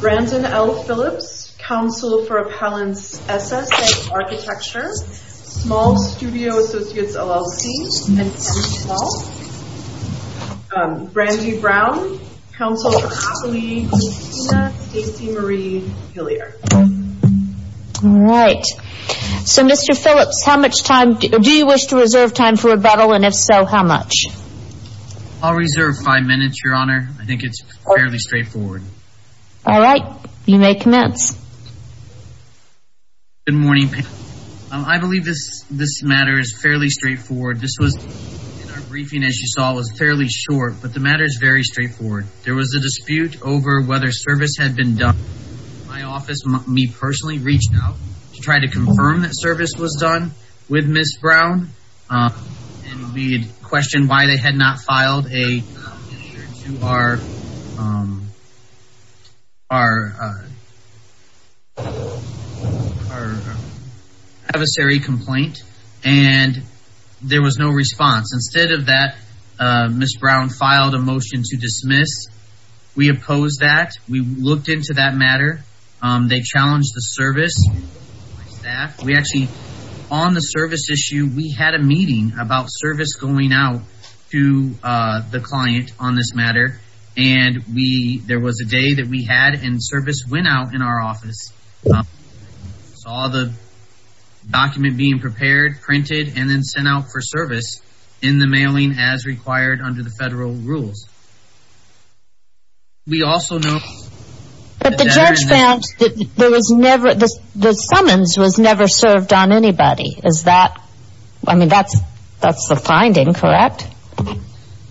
Brandon L. Phillips, Counsel for Appellants, SSA Architecture, Small Studio Associates LLC, Brandy Brown, Counsel for Appellees, Stacey Marie Hillyer. Alright, so Mr. Phillips, how much time, do you wish to reserve time for rebuttal and if so, how much? I'll reserve five minutes, Your Honor. I think it's fairly straightforward. Alright, you may commence. Good morning. I believe this matter is fairly straightforward. This was, in our briefing as you saw, was fairly short, but the matter is very straightforward. There was a dispute over whether service had been done. My office, me personally, reached out to try to confirm that service was done with Ms. Brown. We had questioned why they had not filed an issue to our adversary complaint and there was no response. Instead of that, Ms. Brown filed a motion to dismiss. We opposed that. We looked into that matter. They challenged the service. On the service issue, we had a meeting about service going out to the client on this matter. There was a day that we had and service went out in our office. We saw the document being prepared, printed, and then sent out for service in the mailing as required under the federal rules. But the judge found that the summons was never served on anybody. That's the finding, correct?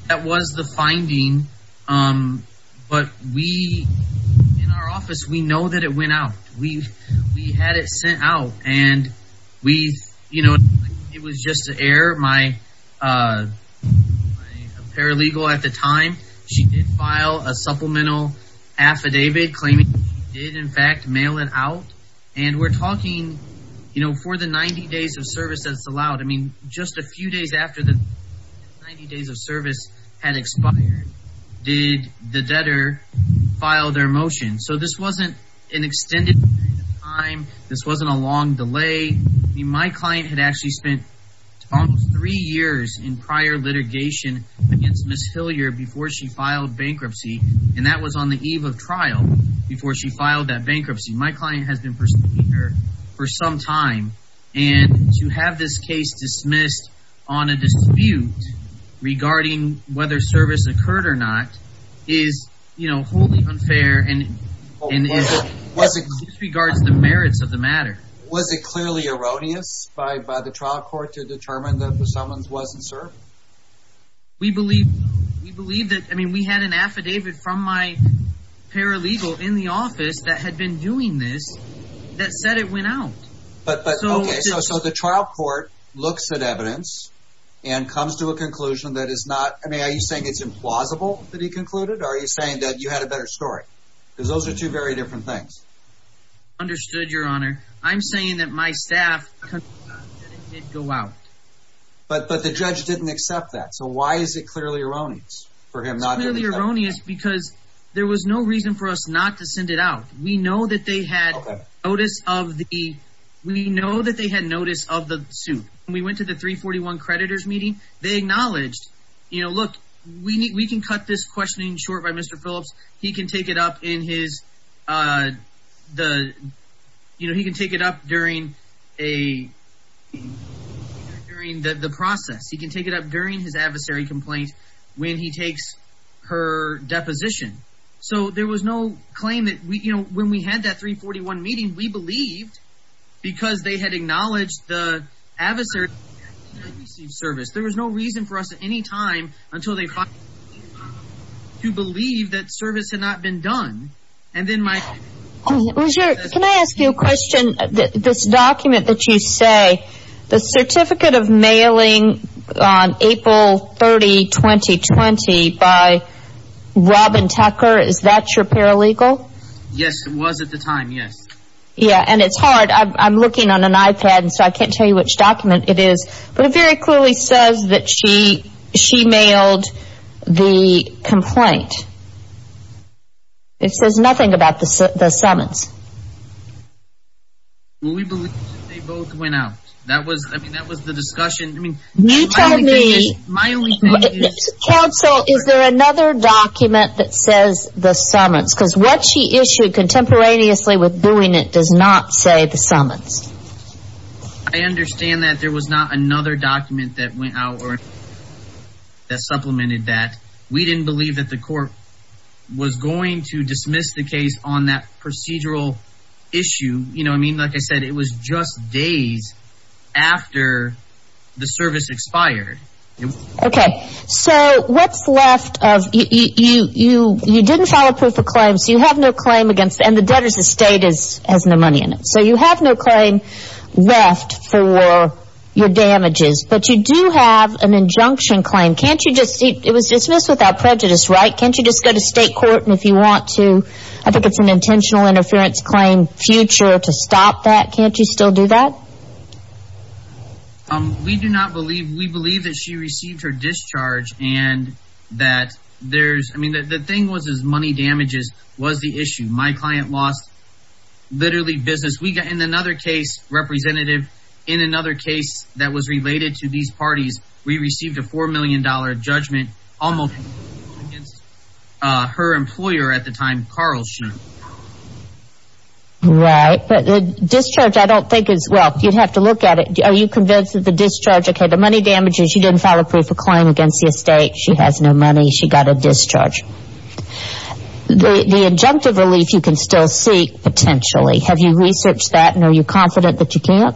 That was the finding, but in our office, we know that it went out. We had it sent out. It was just an error. My paralegal at the time, she did file a supplemental affidavit claiming she did, in fact, mail it out. We're talking for the 90 days of service that's allowed. Just a few days after the 90 days of service had expired, did the debtor file their motion? So this wasn't an extended period of time. This wasn't a long delay. My client had actually spent almost three years in prior litigation against Ms. Hillier before she filed bankruptcy, and that was on the eve of trial before she filed that bankruptcy. My client has been pursuing her for some time, and to have this case dismissed on a dispute regarding whether service occurred or not is wholly unfair and disregards the merits of the matter. Was it clearly erroneous by the trial court to determine that the summons wasn't served? We believe that. I mean, we had an affidavit from my paralegal in the office that had been doing this that said it went out. Okay, so the trial court looks at evidence and comes to a conclusion that is not – I mean, are you saying it's implausible that he concluded, or are you saying that you had a better story? Because those are two very different things. Understood, Your Honor. I'm saying that my staff concluded that it did go out. But the judge didn't accept that, so why is it clearly erroneous for him not to accept it? It's clearly erroneous because there was no reason for us not to send it out. We know that they had notice of the suit. When we went to the 341 creditors meeting, they acknowledged, look, we can cut this questioning short by Mr. Phillips. He can take it up in his – he can take it up during a – during the process. He can take it up during his adversary complaint when he takes her deposition. So there was no claim that we – you know, when we had that 341 meeting, we believed because they had acknowledged the adversary. There was no reason for us at any time until they – to believe that service had not been done. Can I ask you a question? This document that you say, the certificate of mailing on April 30, 2020 by Robin Tucker, is that your paralegal? Yes, it was at the time, yes. Yeah, and it's hard. I'm looking on an iPad, so I can't tell you which document it is. But it very clearly says that she – she mailed the complaint. It says nothing about the summons. Well, we believe they both went out. That was – I mean, that was the discussion. You tell me – My only thing is – Counsel, is there another document that says the summons? Because what she issued contemporaneously with doing it does not say the summons. I understand that there was not another document that went out or that supplemented that. We didn't believe that the court was going to dismiss the case on that procedural issue. You know, I mean, like I said, it was just days after the service expired. Okay. So what's left of – you didn't file a proof of claim, so you have no claim against – and the debtor's estate has no money in it. So you have no claim left for your damages, but you do have an injunction claim. Can't you just – it was dismissed without prejudice, right? Can't you just go to state court and if you want to – I think it's an intentional interference claim future to stop that. Can't you still do that? We do not believe – we believe that she received her discharge and that there's – I mean, the thing was, is money damages was the issue. My client lost literally business. In another case, Representative, in another case that was related to these parties, we received a $4 million judgment almost against her employer at the time, Carl Schoen. Right. But the discharge I don't think is – well, you'd have to look at it. Are you convinced that the discharge – okay, the money damages, she didn't file a proof of claim against the estate. The injunctive relief you can still seek potentially, have you researched that and are you confident that you can't?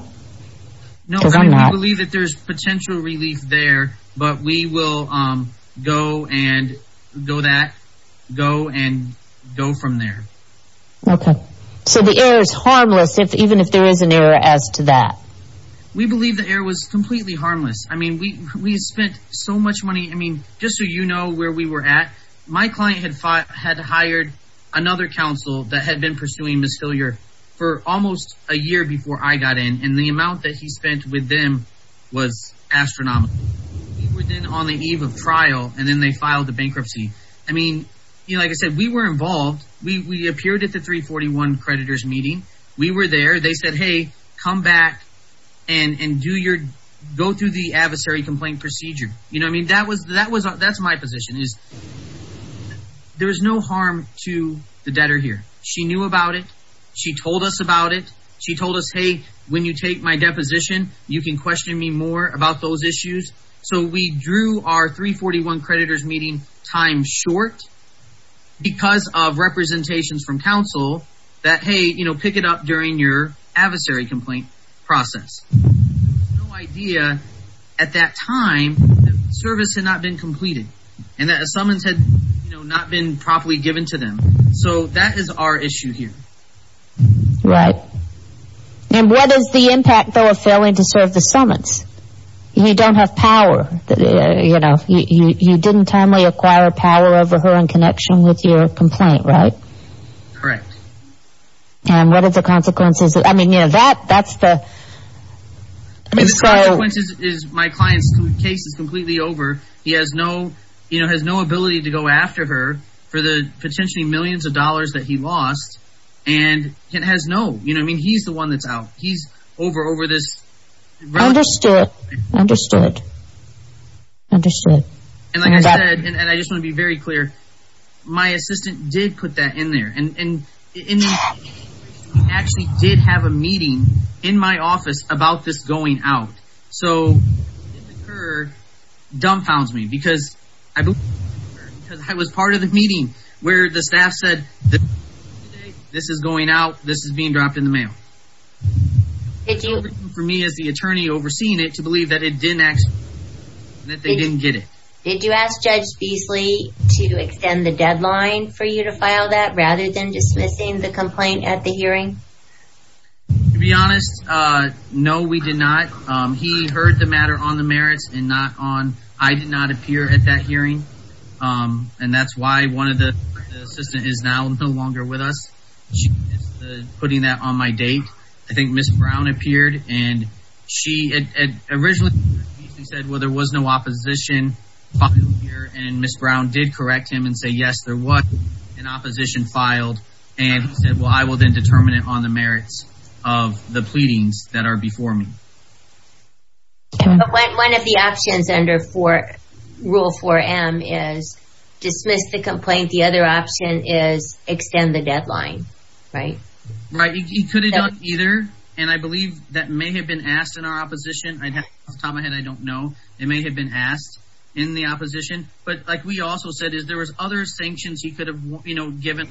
No, I believe that there's potential relief there, but we will go and go that – go and go from there. Okay. So the error is harmless even if there is an error as to that? We believe the error was completely harmless. I mean, we spent so much money – I mean, just so you know where we were at, my client had hired another counsel that had been pursuing Ms. Hilliard for almost a year before I got in, and the amount that he spent with them was astronomical. We were then on the eve of trial, and then they filed the bankruptcy. I mean, like I said, we were involved. We appeared at the 341 creditors meeting. We were there. They said, hey, come back and do your – go through the adversary complaint procedure. I mean, that was – that's my position is there is no harm to the debtor here. She knew about it. She told us about it. She told us, hey, when you take my deposition, you can question me more about those issues. So we drew our 341 creditors meeting time short because of representations from counsel that, hey, pick it up during your adversary complaint process. There was no idea at that time that the service had not been completed and that a summons had not been properly given to them. So that is our issue here. Right. And what is the impact, though, of failing to serve the summons? You don't have power. You know, you didn't timely acquire power over her in connection with your complaint, right? Correct. And what are the consequences? I mean, you know, that's the – I mean, the consequences is my client's case is completely over. He has no ability to go after her for the potentially millions of dollars that he lost and has no – you know what I mean? He's the one that's out. He's over this – Understood. Understood. Understood. And like I said, and I just want to be very clear, my assistant did put that in there. And he actually did have a meeting in my office about this going out. So it occurred, dumbfounds me, because I was part of the meeting where the staff said this is going out, this is being dropped in the mail. For me, as the attorney overseeing it, to believe that it didn't actually – that they didn't get it. Did you ask Judge Beasley to extend the deadline for you to file that rather than dismissing the complaint at the hearing? To be honest, no, we did not. He heard the matter on the merits and not on – I did not appear at that hearing. And that's why one of the – the assistant is now no longer with us. She is putting that on my date. I think Ms. Brown appeared. And she originally said, well, there was no opposition filed here. And Ms. Brown did correct him and say, yes, there was an opposition filed. And he said, well, I will then determine it on the merits of the pleadings that are before me. But one of the options under Rule 4M is dismiss the complaint. The other option is extend the deadline, right? Right. He could have done either. And I believe that may have been asked in our opposition. Off the top of my head, I don't know. It may have been asked in the opposition. But like we also said, there was other sanctions he could have given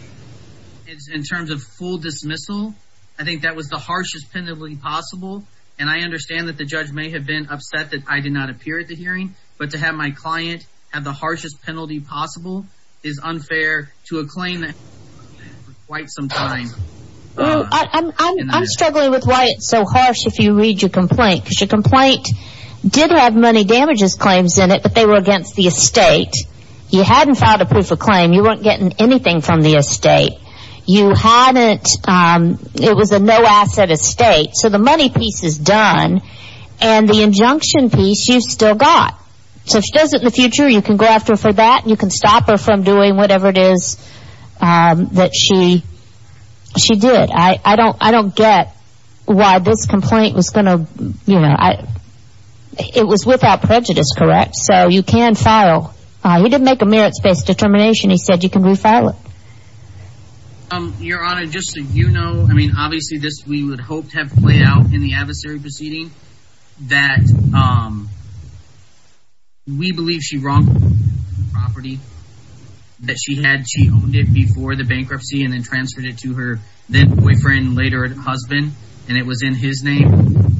in terms of full dismissal. I think that was the harshest penalty possible. And I understand that the judge may have been upset that I did not appear at the hearing. But to have my client have the harshest penalty possible is unfair to a claim that has been there for quite some time. I'm struggling with why it's so harsh if you read your complaint. Because your complaint did have money damages claims in it, but they were against the estate. You hadn't filed a proof of claim. You weren't getting anything from the estate. You hadn't – it was a no-asset estate. So the money piece is done, and the injunction piece you still got. So if she does it in the future, you can go after her for that. You can stop her from doing whatever it is that she did. I don't get why this complaint was going to – it was without prejudice, correct? So you can file – he didn't make a merits-based determination. He said you can refile it. Your Honor, just so you know, I mean obviously this we would hope to have played out in the adversary proceeding. That we believe she wronged the property that she had. She owned it before the bankruptcy and then transferred it to her then-boyfriend, later husband. And it was in his name.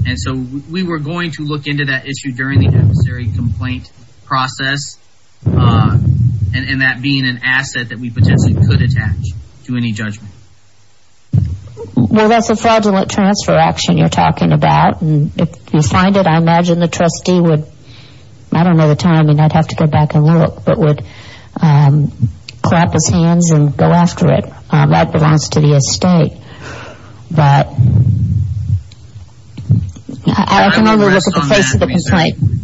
And so we were going to look into that issue during the adversary complaint process. And that being an asset that we potentially could attach to any judgment. Well, that's a fraudulent transfer action you're talking about. And if you find it, I imagine the trustee would – I don't know the time. I mean, I'd have to go back and look. But would clap his hands and go after it. That belongs to the estate. But I can only look at the face of the complaint. Okay.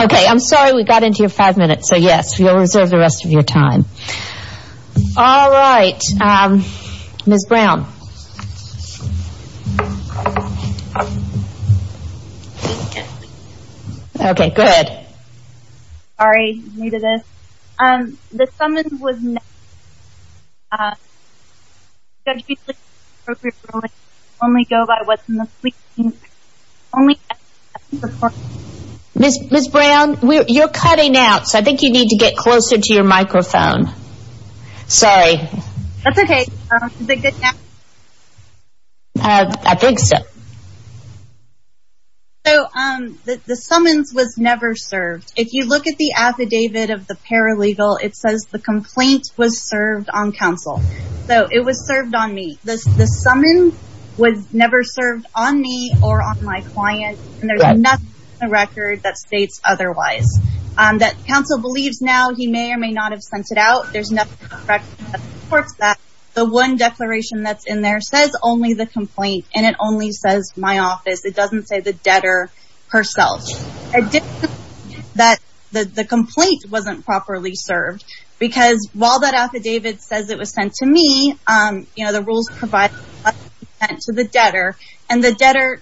Okay, I'm sorry we got into your five minutes. So, yes, you'll reserve the rest of your time. All right. Ms. Brown. Okay, go ahead. Sorry, I'm new to this. The summons was never served. Only go by what's in the fleet. Ms. Brown, you're cutting out, so I think you need to get closer to your microphone. Sorry. That's okay. Is it good now? I think so. So the summons was never served. If you look at the affidavit of the paralegal, it says the complaint was served on counsel. So it was served on me. The summons was never served on me or on my client. And there's nothing in the record that states otherwise. That counsel believes now he may or may not have sent it out. There's nothing in the record that supports that. The one declaration that's in there says only the complaint. And it only says my office. It doesn't say the debtor herself. It didn't say that the complaint wasn't properly served. Because while that affidavit says it was sent to me, the rules provide that it was sent to the debtor. And the debtor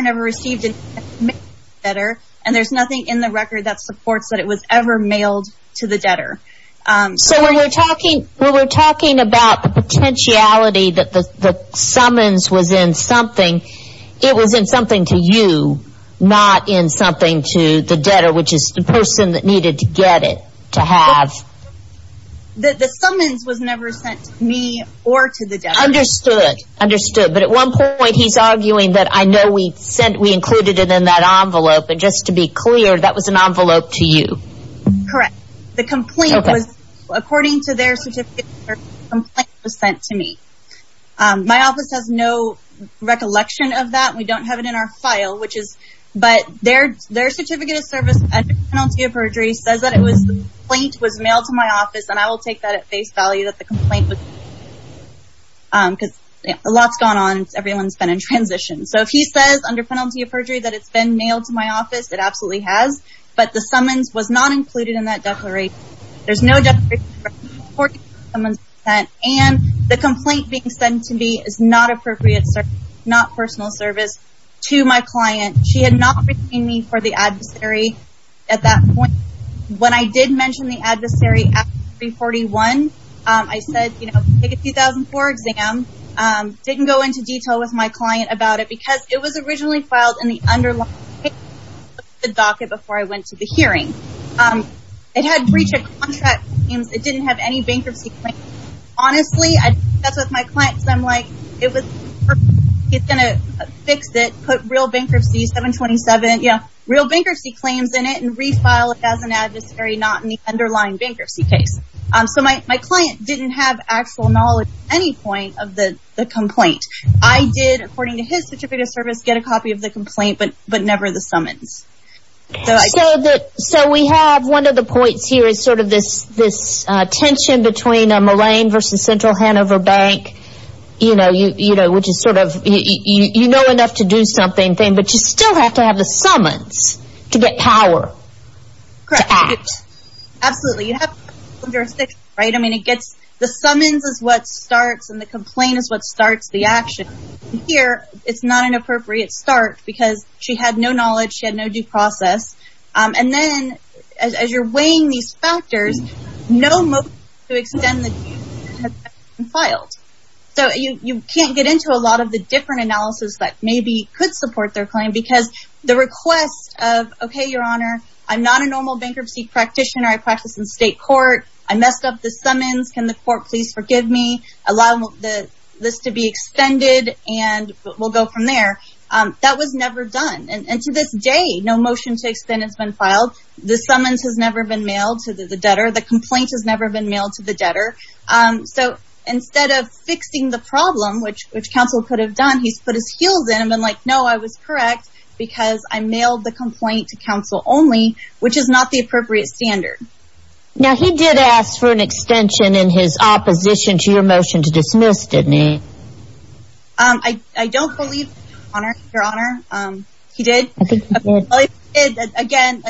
never received it. And there's nothing in the record that supports that it was ever mailed to the debtor. So when we're talking about the potentiality that the summons was in something, it was in something to you, not in something to the debtor, which is the person that needed to get it, to have. The summons was never sent to me or to the debtor. Understood. Understood. But at one point he's arguing that I know we included it in that envelope. And just to be clear, that was an envelope to you. Correct. The complaint was, according to their certificate, the complaint was sent to me. My office has no recollection of that. We don't have it in our file. But their certificate of service under penalty of perjury says that the complaint was mailed to my office. And I will take that at face value that the complaint was sent to me. Because a lot's gone on. Everyone's been in transition. So if he says under penalty of perjury that it's been mailed to my office, it absolutely has. But the summons was not included in that declaration. There's no justification for supporting someone's consent. And the complaint being sent to me is not appropriate service, not personal service, to my client. She had not reached out to me for the adversary at that point. When I did mention the adversary after 3-41, I said, you know, take a 2004 exam. Didn't go into detail with my client about it because it was originally filed in the underlying case of the docket before I went to the hearing. It had breach of contract claims. It didn't have any bankruptcy claims. Honestly, that's what my client said. I'm like, it's going to fix it, put real bankruptcy, 727, yeah, real bankruptcy claims in it, and refile it as an adversary not in the underlying bankruptcy case. So my client didn't have actual knowledge at any point of the complaint. I did, according to his certificate of service, get a copy of the complaint but never the summons. So we have one of the points here is sort of this tension between Mullane v. Central Hanover Bank, you know, which is sort of you know enough to do something, but you still have to have the summons to get power to act. Correct. Absolutely. You have to have jurisdiction, right? I mean, the summons is what starts and the complaint is what starts the action. Here, it's not an appropriate start because she had no knowledge. She had no due process. And then as you're weighing these factors, no motion to extend the due process has been filed. So you can't get into a lot of the different analysis that maybe could support their claim because the request of, okay, Your Honor, I'm not a normal bankruptcy practitioner. I practice in state court. I messed up the summons. Can the court please forgive me? Allow this to be extended and we'll go from there. That was never done. And to this day, no motion to extend has been filed. The summons has never been mailed to the debtor. The complaint has never been mailed to the debtor. So instead of fixing the problem, which counsel could have done, he's put his heels in and been like, no, I was correct because I mailed the complaint to counsel only, which is not the appropriate standard. Now he did ask for an extension in his opposition to your motion to dismiss, didn't he? I don't believe, Your Honor, he did. I think he did. Again,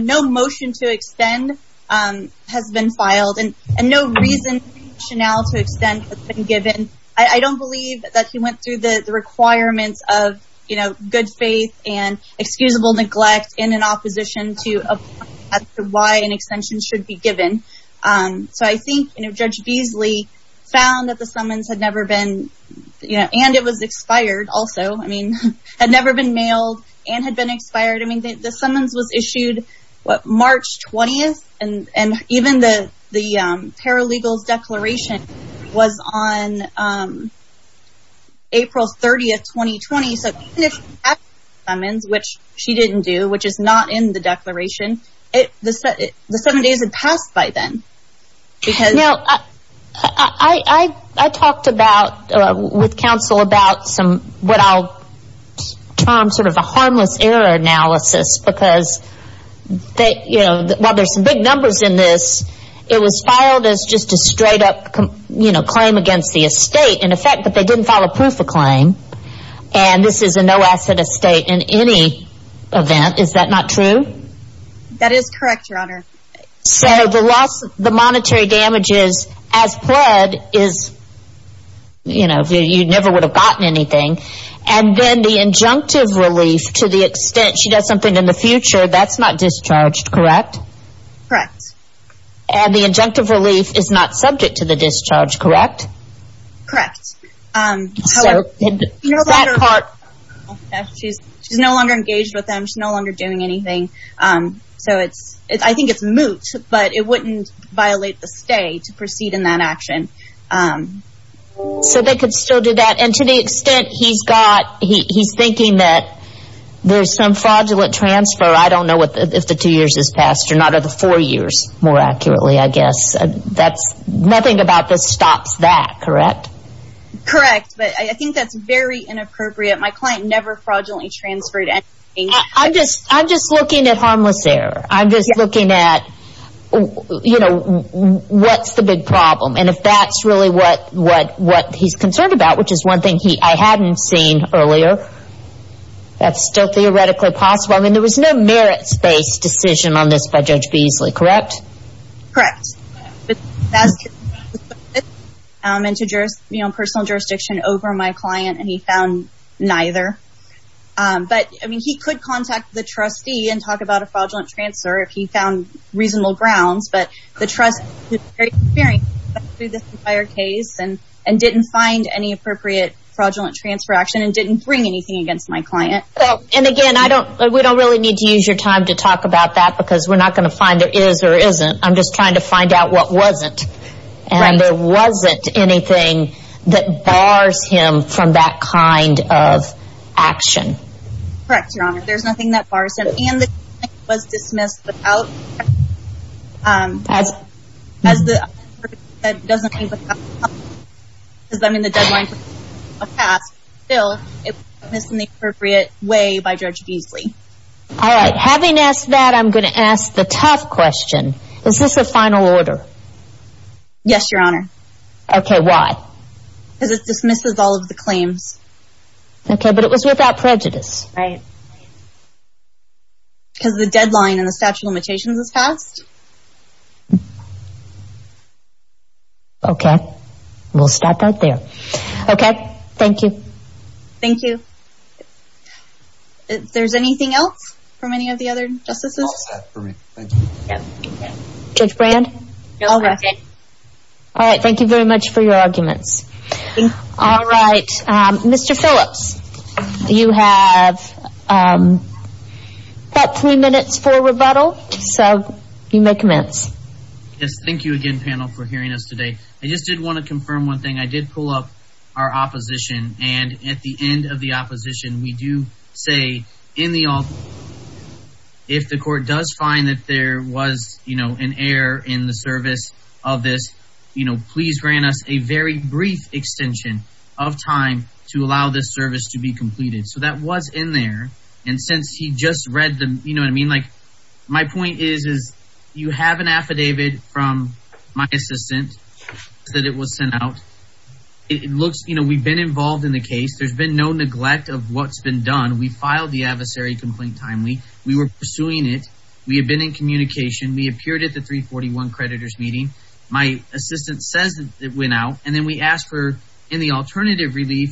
no motion to extend has been filed. And no reason to extend has been given. I don't believe that he went through the requirements of good faith and excusable neglect in an opposition to why an extension should be given. So I think Judge Beasley found that the summons had never been, and it was expired also, had never been mailed and had been expired. The summons was issued March 20th, and even the paralegal's declaration was on April 30th, 2020. Which she didn't do, which is not in the declaration. The seven days had passed by then. Now, I talked with counsel about what I'll term sort of a harmless error analysis, because while there's some big numbers in this, it was filed as just a straight-up claim against the estate, in effect, but they didn't file a proof of claim. And this is a no-asset estate in any event. Is that not true? That is correct, Your Honor. So the monetary damages as pled is, you know, you never would have gotten anything. And then the injunctive relief to the extent she does something in the future, that's not discharged, correct? Correct. And the injunctive relief is not subject to the discharge, correct? Correct. However, that part, she's no longer engaged with them. She's no longer doing anything. So I think it's moot, but it wouldn't violate the stay to proceed in that action. So they could still do that? And to the extent he's thinking that there's some fraudulent transfer, I don't know if the two years has passed or not, or the four years more accurately, I guess. Nothing about this stops that, correct? Correct. But I think that's very inappropriate. My client never fraudulently transferred anything. I'm just looking at harmless error. I'm just looking at, you know, what's the big problem. And if that's really what he's concerned about, which is one thing I hadn't seen earlier, that's still theoretically possible. I mean, there was no merits-based decision on this by Judge Beasley, correct? Correct. He asked if there was any personal jurisdiction over my client, and he found neither. But, I mean, he could contact the trustee and talk about a fraudulent transfer if he found reasonable grounds. But the trust, through this entire case, and didn't find any appropriate fraudulent transfer action and didn't bring anything against my client. And, again, we don't really need to use your time to talk about that because we're not going to find there is or isn't. I'm just trying to find out what wasn't. Right. And there wasn't anything that bars him from that kind of action. Correct, Your Honor. There's nothing that bars him. And the claim was dismissed without... As... As the... Because, I mean, the deadline for... Still, it was dismissed in the appropriate way by Judge Beasley. All right. Having asked that, I'm going to ask the tough question. Is this a final order? Yes, Your Honor. Okay, why? Because it dismisses all of the claims. Okay, but it was without prejudice. Right. Because the deadline and the statute of limitations is passed. Okay. We'll stop right there. Okay. Thank you. Thank you. There's anything else from any of the other justices? That's all I have for me. Thank you. Judge Brand? No, I'm okay. All right. Thank you very much for your arguments. All right. Mr. Phillips, you have about three minutes for rebuttal, so you may commence. Yes, thank you again, panel, for hearing us today. I just did want to confirm one thing. I did pull up our opposition, and at the end of the opposition, we do say in the alternate, if the court does find that there was, you know, an error in the service of this, you know, please grant us a very brief extension of time to allow this service to be completed. So that was in there, and since he just read the, you know what I mean? Like, my point is, is you have an affidavit from my assistant that it was sent out. It looks, you know, we've been involved in the case. There's been no neglect of what's been done. We filed the adversary complaint timely. We were pursuing it. We had been in communication. We appeared at the 341 creditors meeting. My assistant says it went out, and then we asked for any alternative relief,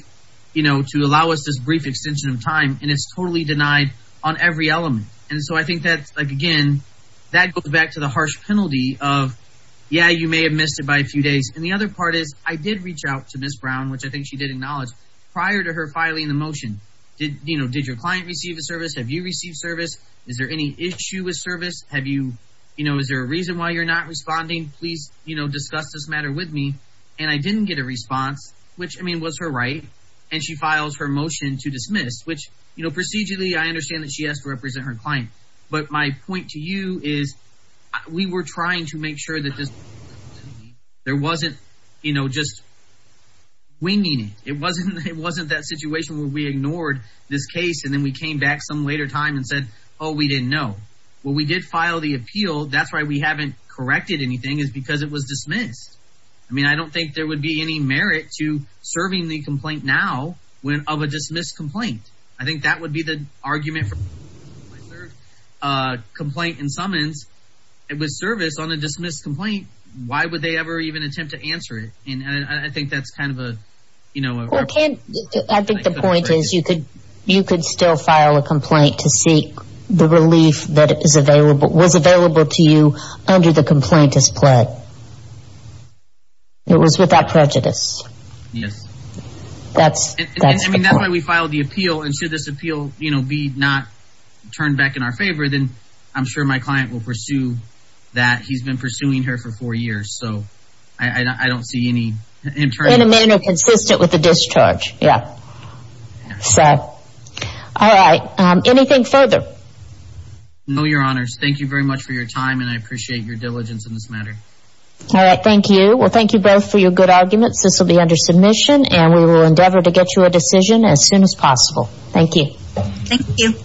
you know, to allow us this brief extension of time, and it's totally denied on every element. And so I think that, like, again, that goes back to the harsh penalty of, yeah, you may have missed it by a few days. And the other part is I did reach out to Ms. Brown, which I think she did acknowledge, prior to her filing the motion. Did, you know, did your client receive a service? Have you received service? Is there any issue with service? Have you, you know, is there a reason why you're not responding? Please, you know, discuss this matter with me. And I didn't get a response, which, I mean, was her right, and she files her motion to dismiss, which, you know, procedurally I understand that she has to represent her client, but my point to you is we were trying to make sure that there wasn't, you know, just winging it. It wasn't that situation where we ignored this case, and then we came back some later time and said, oh, we didn't know. Well, we did file the appeal. That's why we haven't corrected anything is because it was dismissed. I mean, I don't think there would be any merit to serving the complaint now of a dismissed complaint. I think that would be the argument. Complaint and summons, it was service on a dismissed complaint. Why would they ever even attempt to answer it? And I think that's kind of a, you know. I think the point is you could still file a complaint to seek the relief that is available, was available to you under the complaint as pled. It was without prejudice. Yes. That's the point. That's why we filed the appeal, and should this appeal, you know, be not turned back in our favor, then I'm sure my client will pursue that. He's been pursuing her for four years, so I don't see any interest. In a manner consistent with the discharge. Yeah. So, all right. Anything further? No, Your Honors. Thank you very much for your time, and I appreciate your diligence in this matter. All right. Thank you. Well, thank you both for your good arguments. This will be under submission, and we will endeavor to get you a decision as soon as possible. Thank you. Thank you.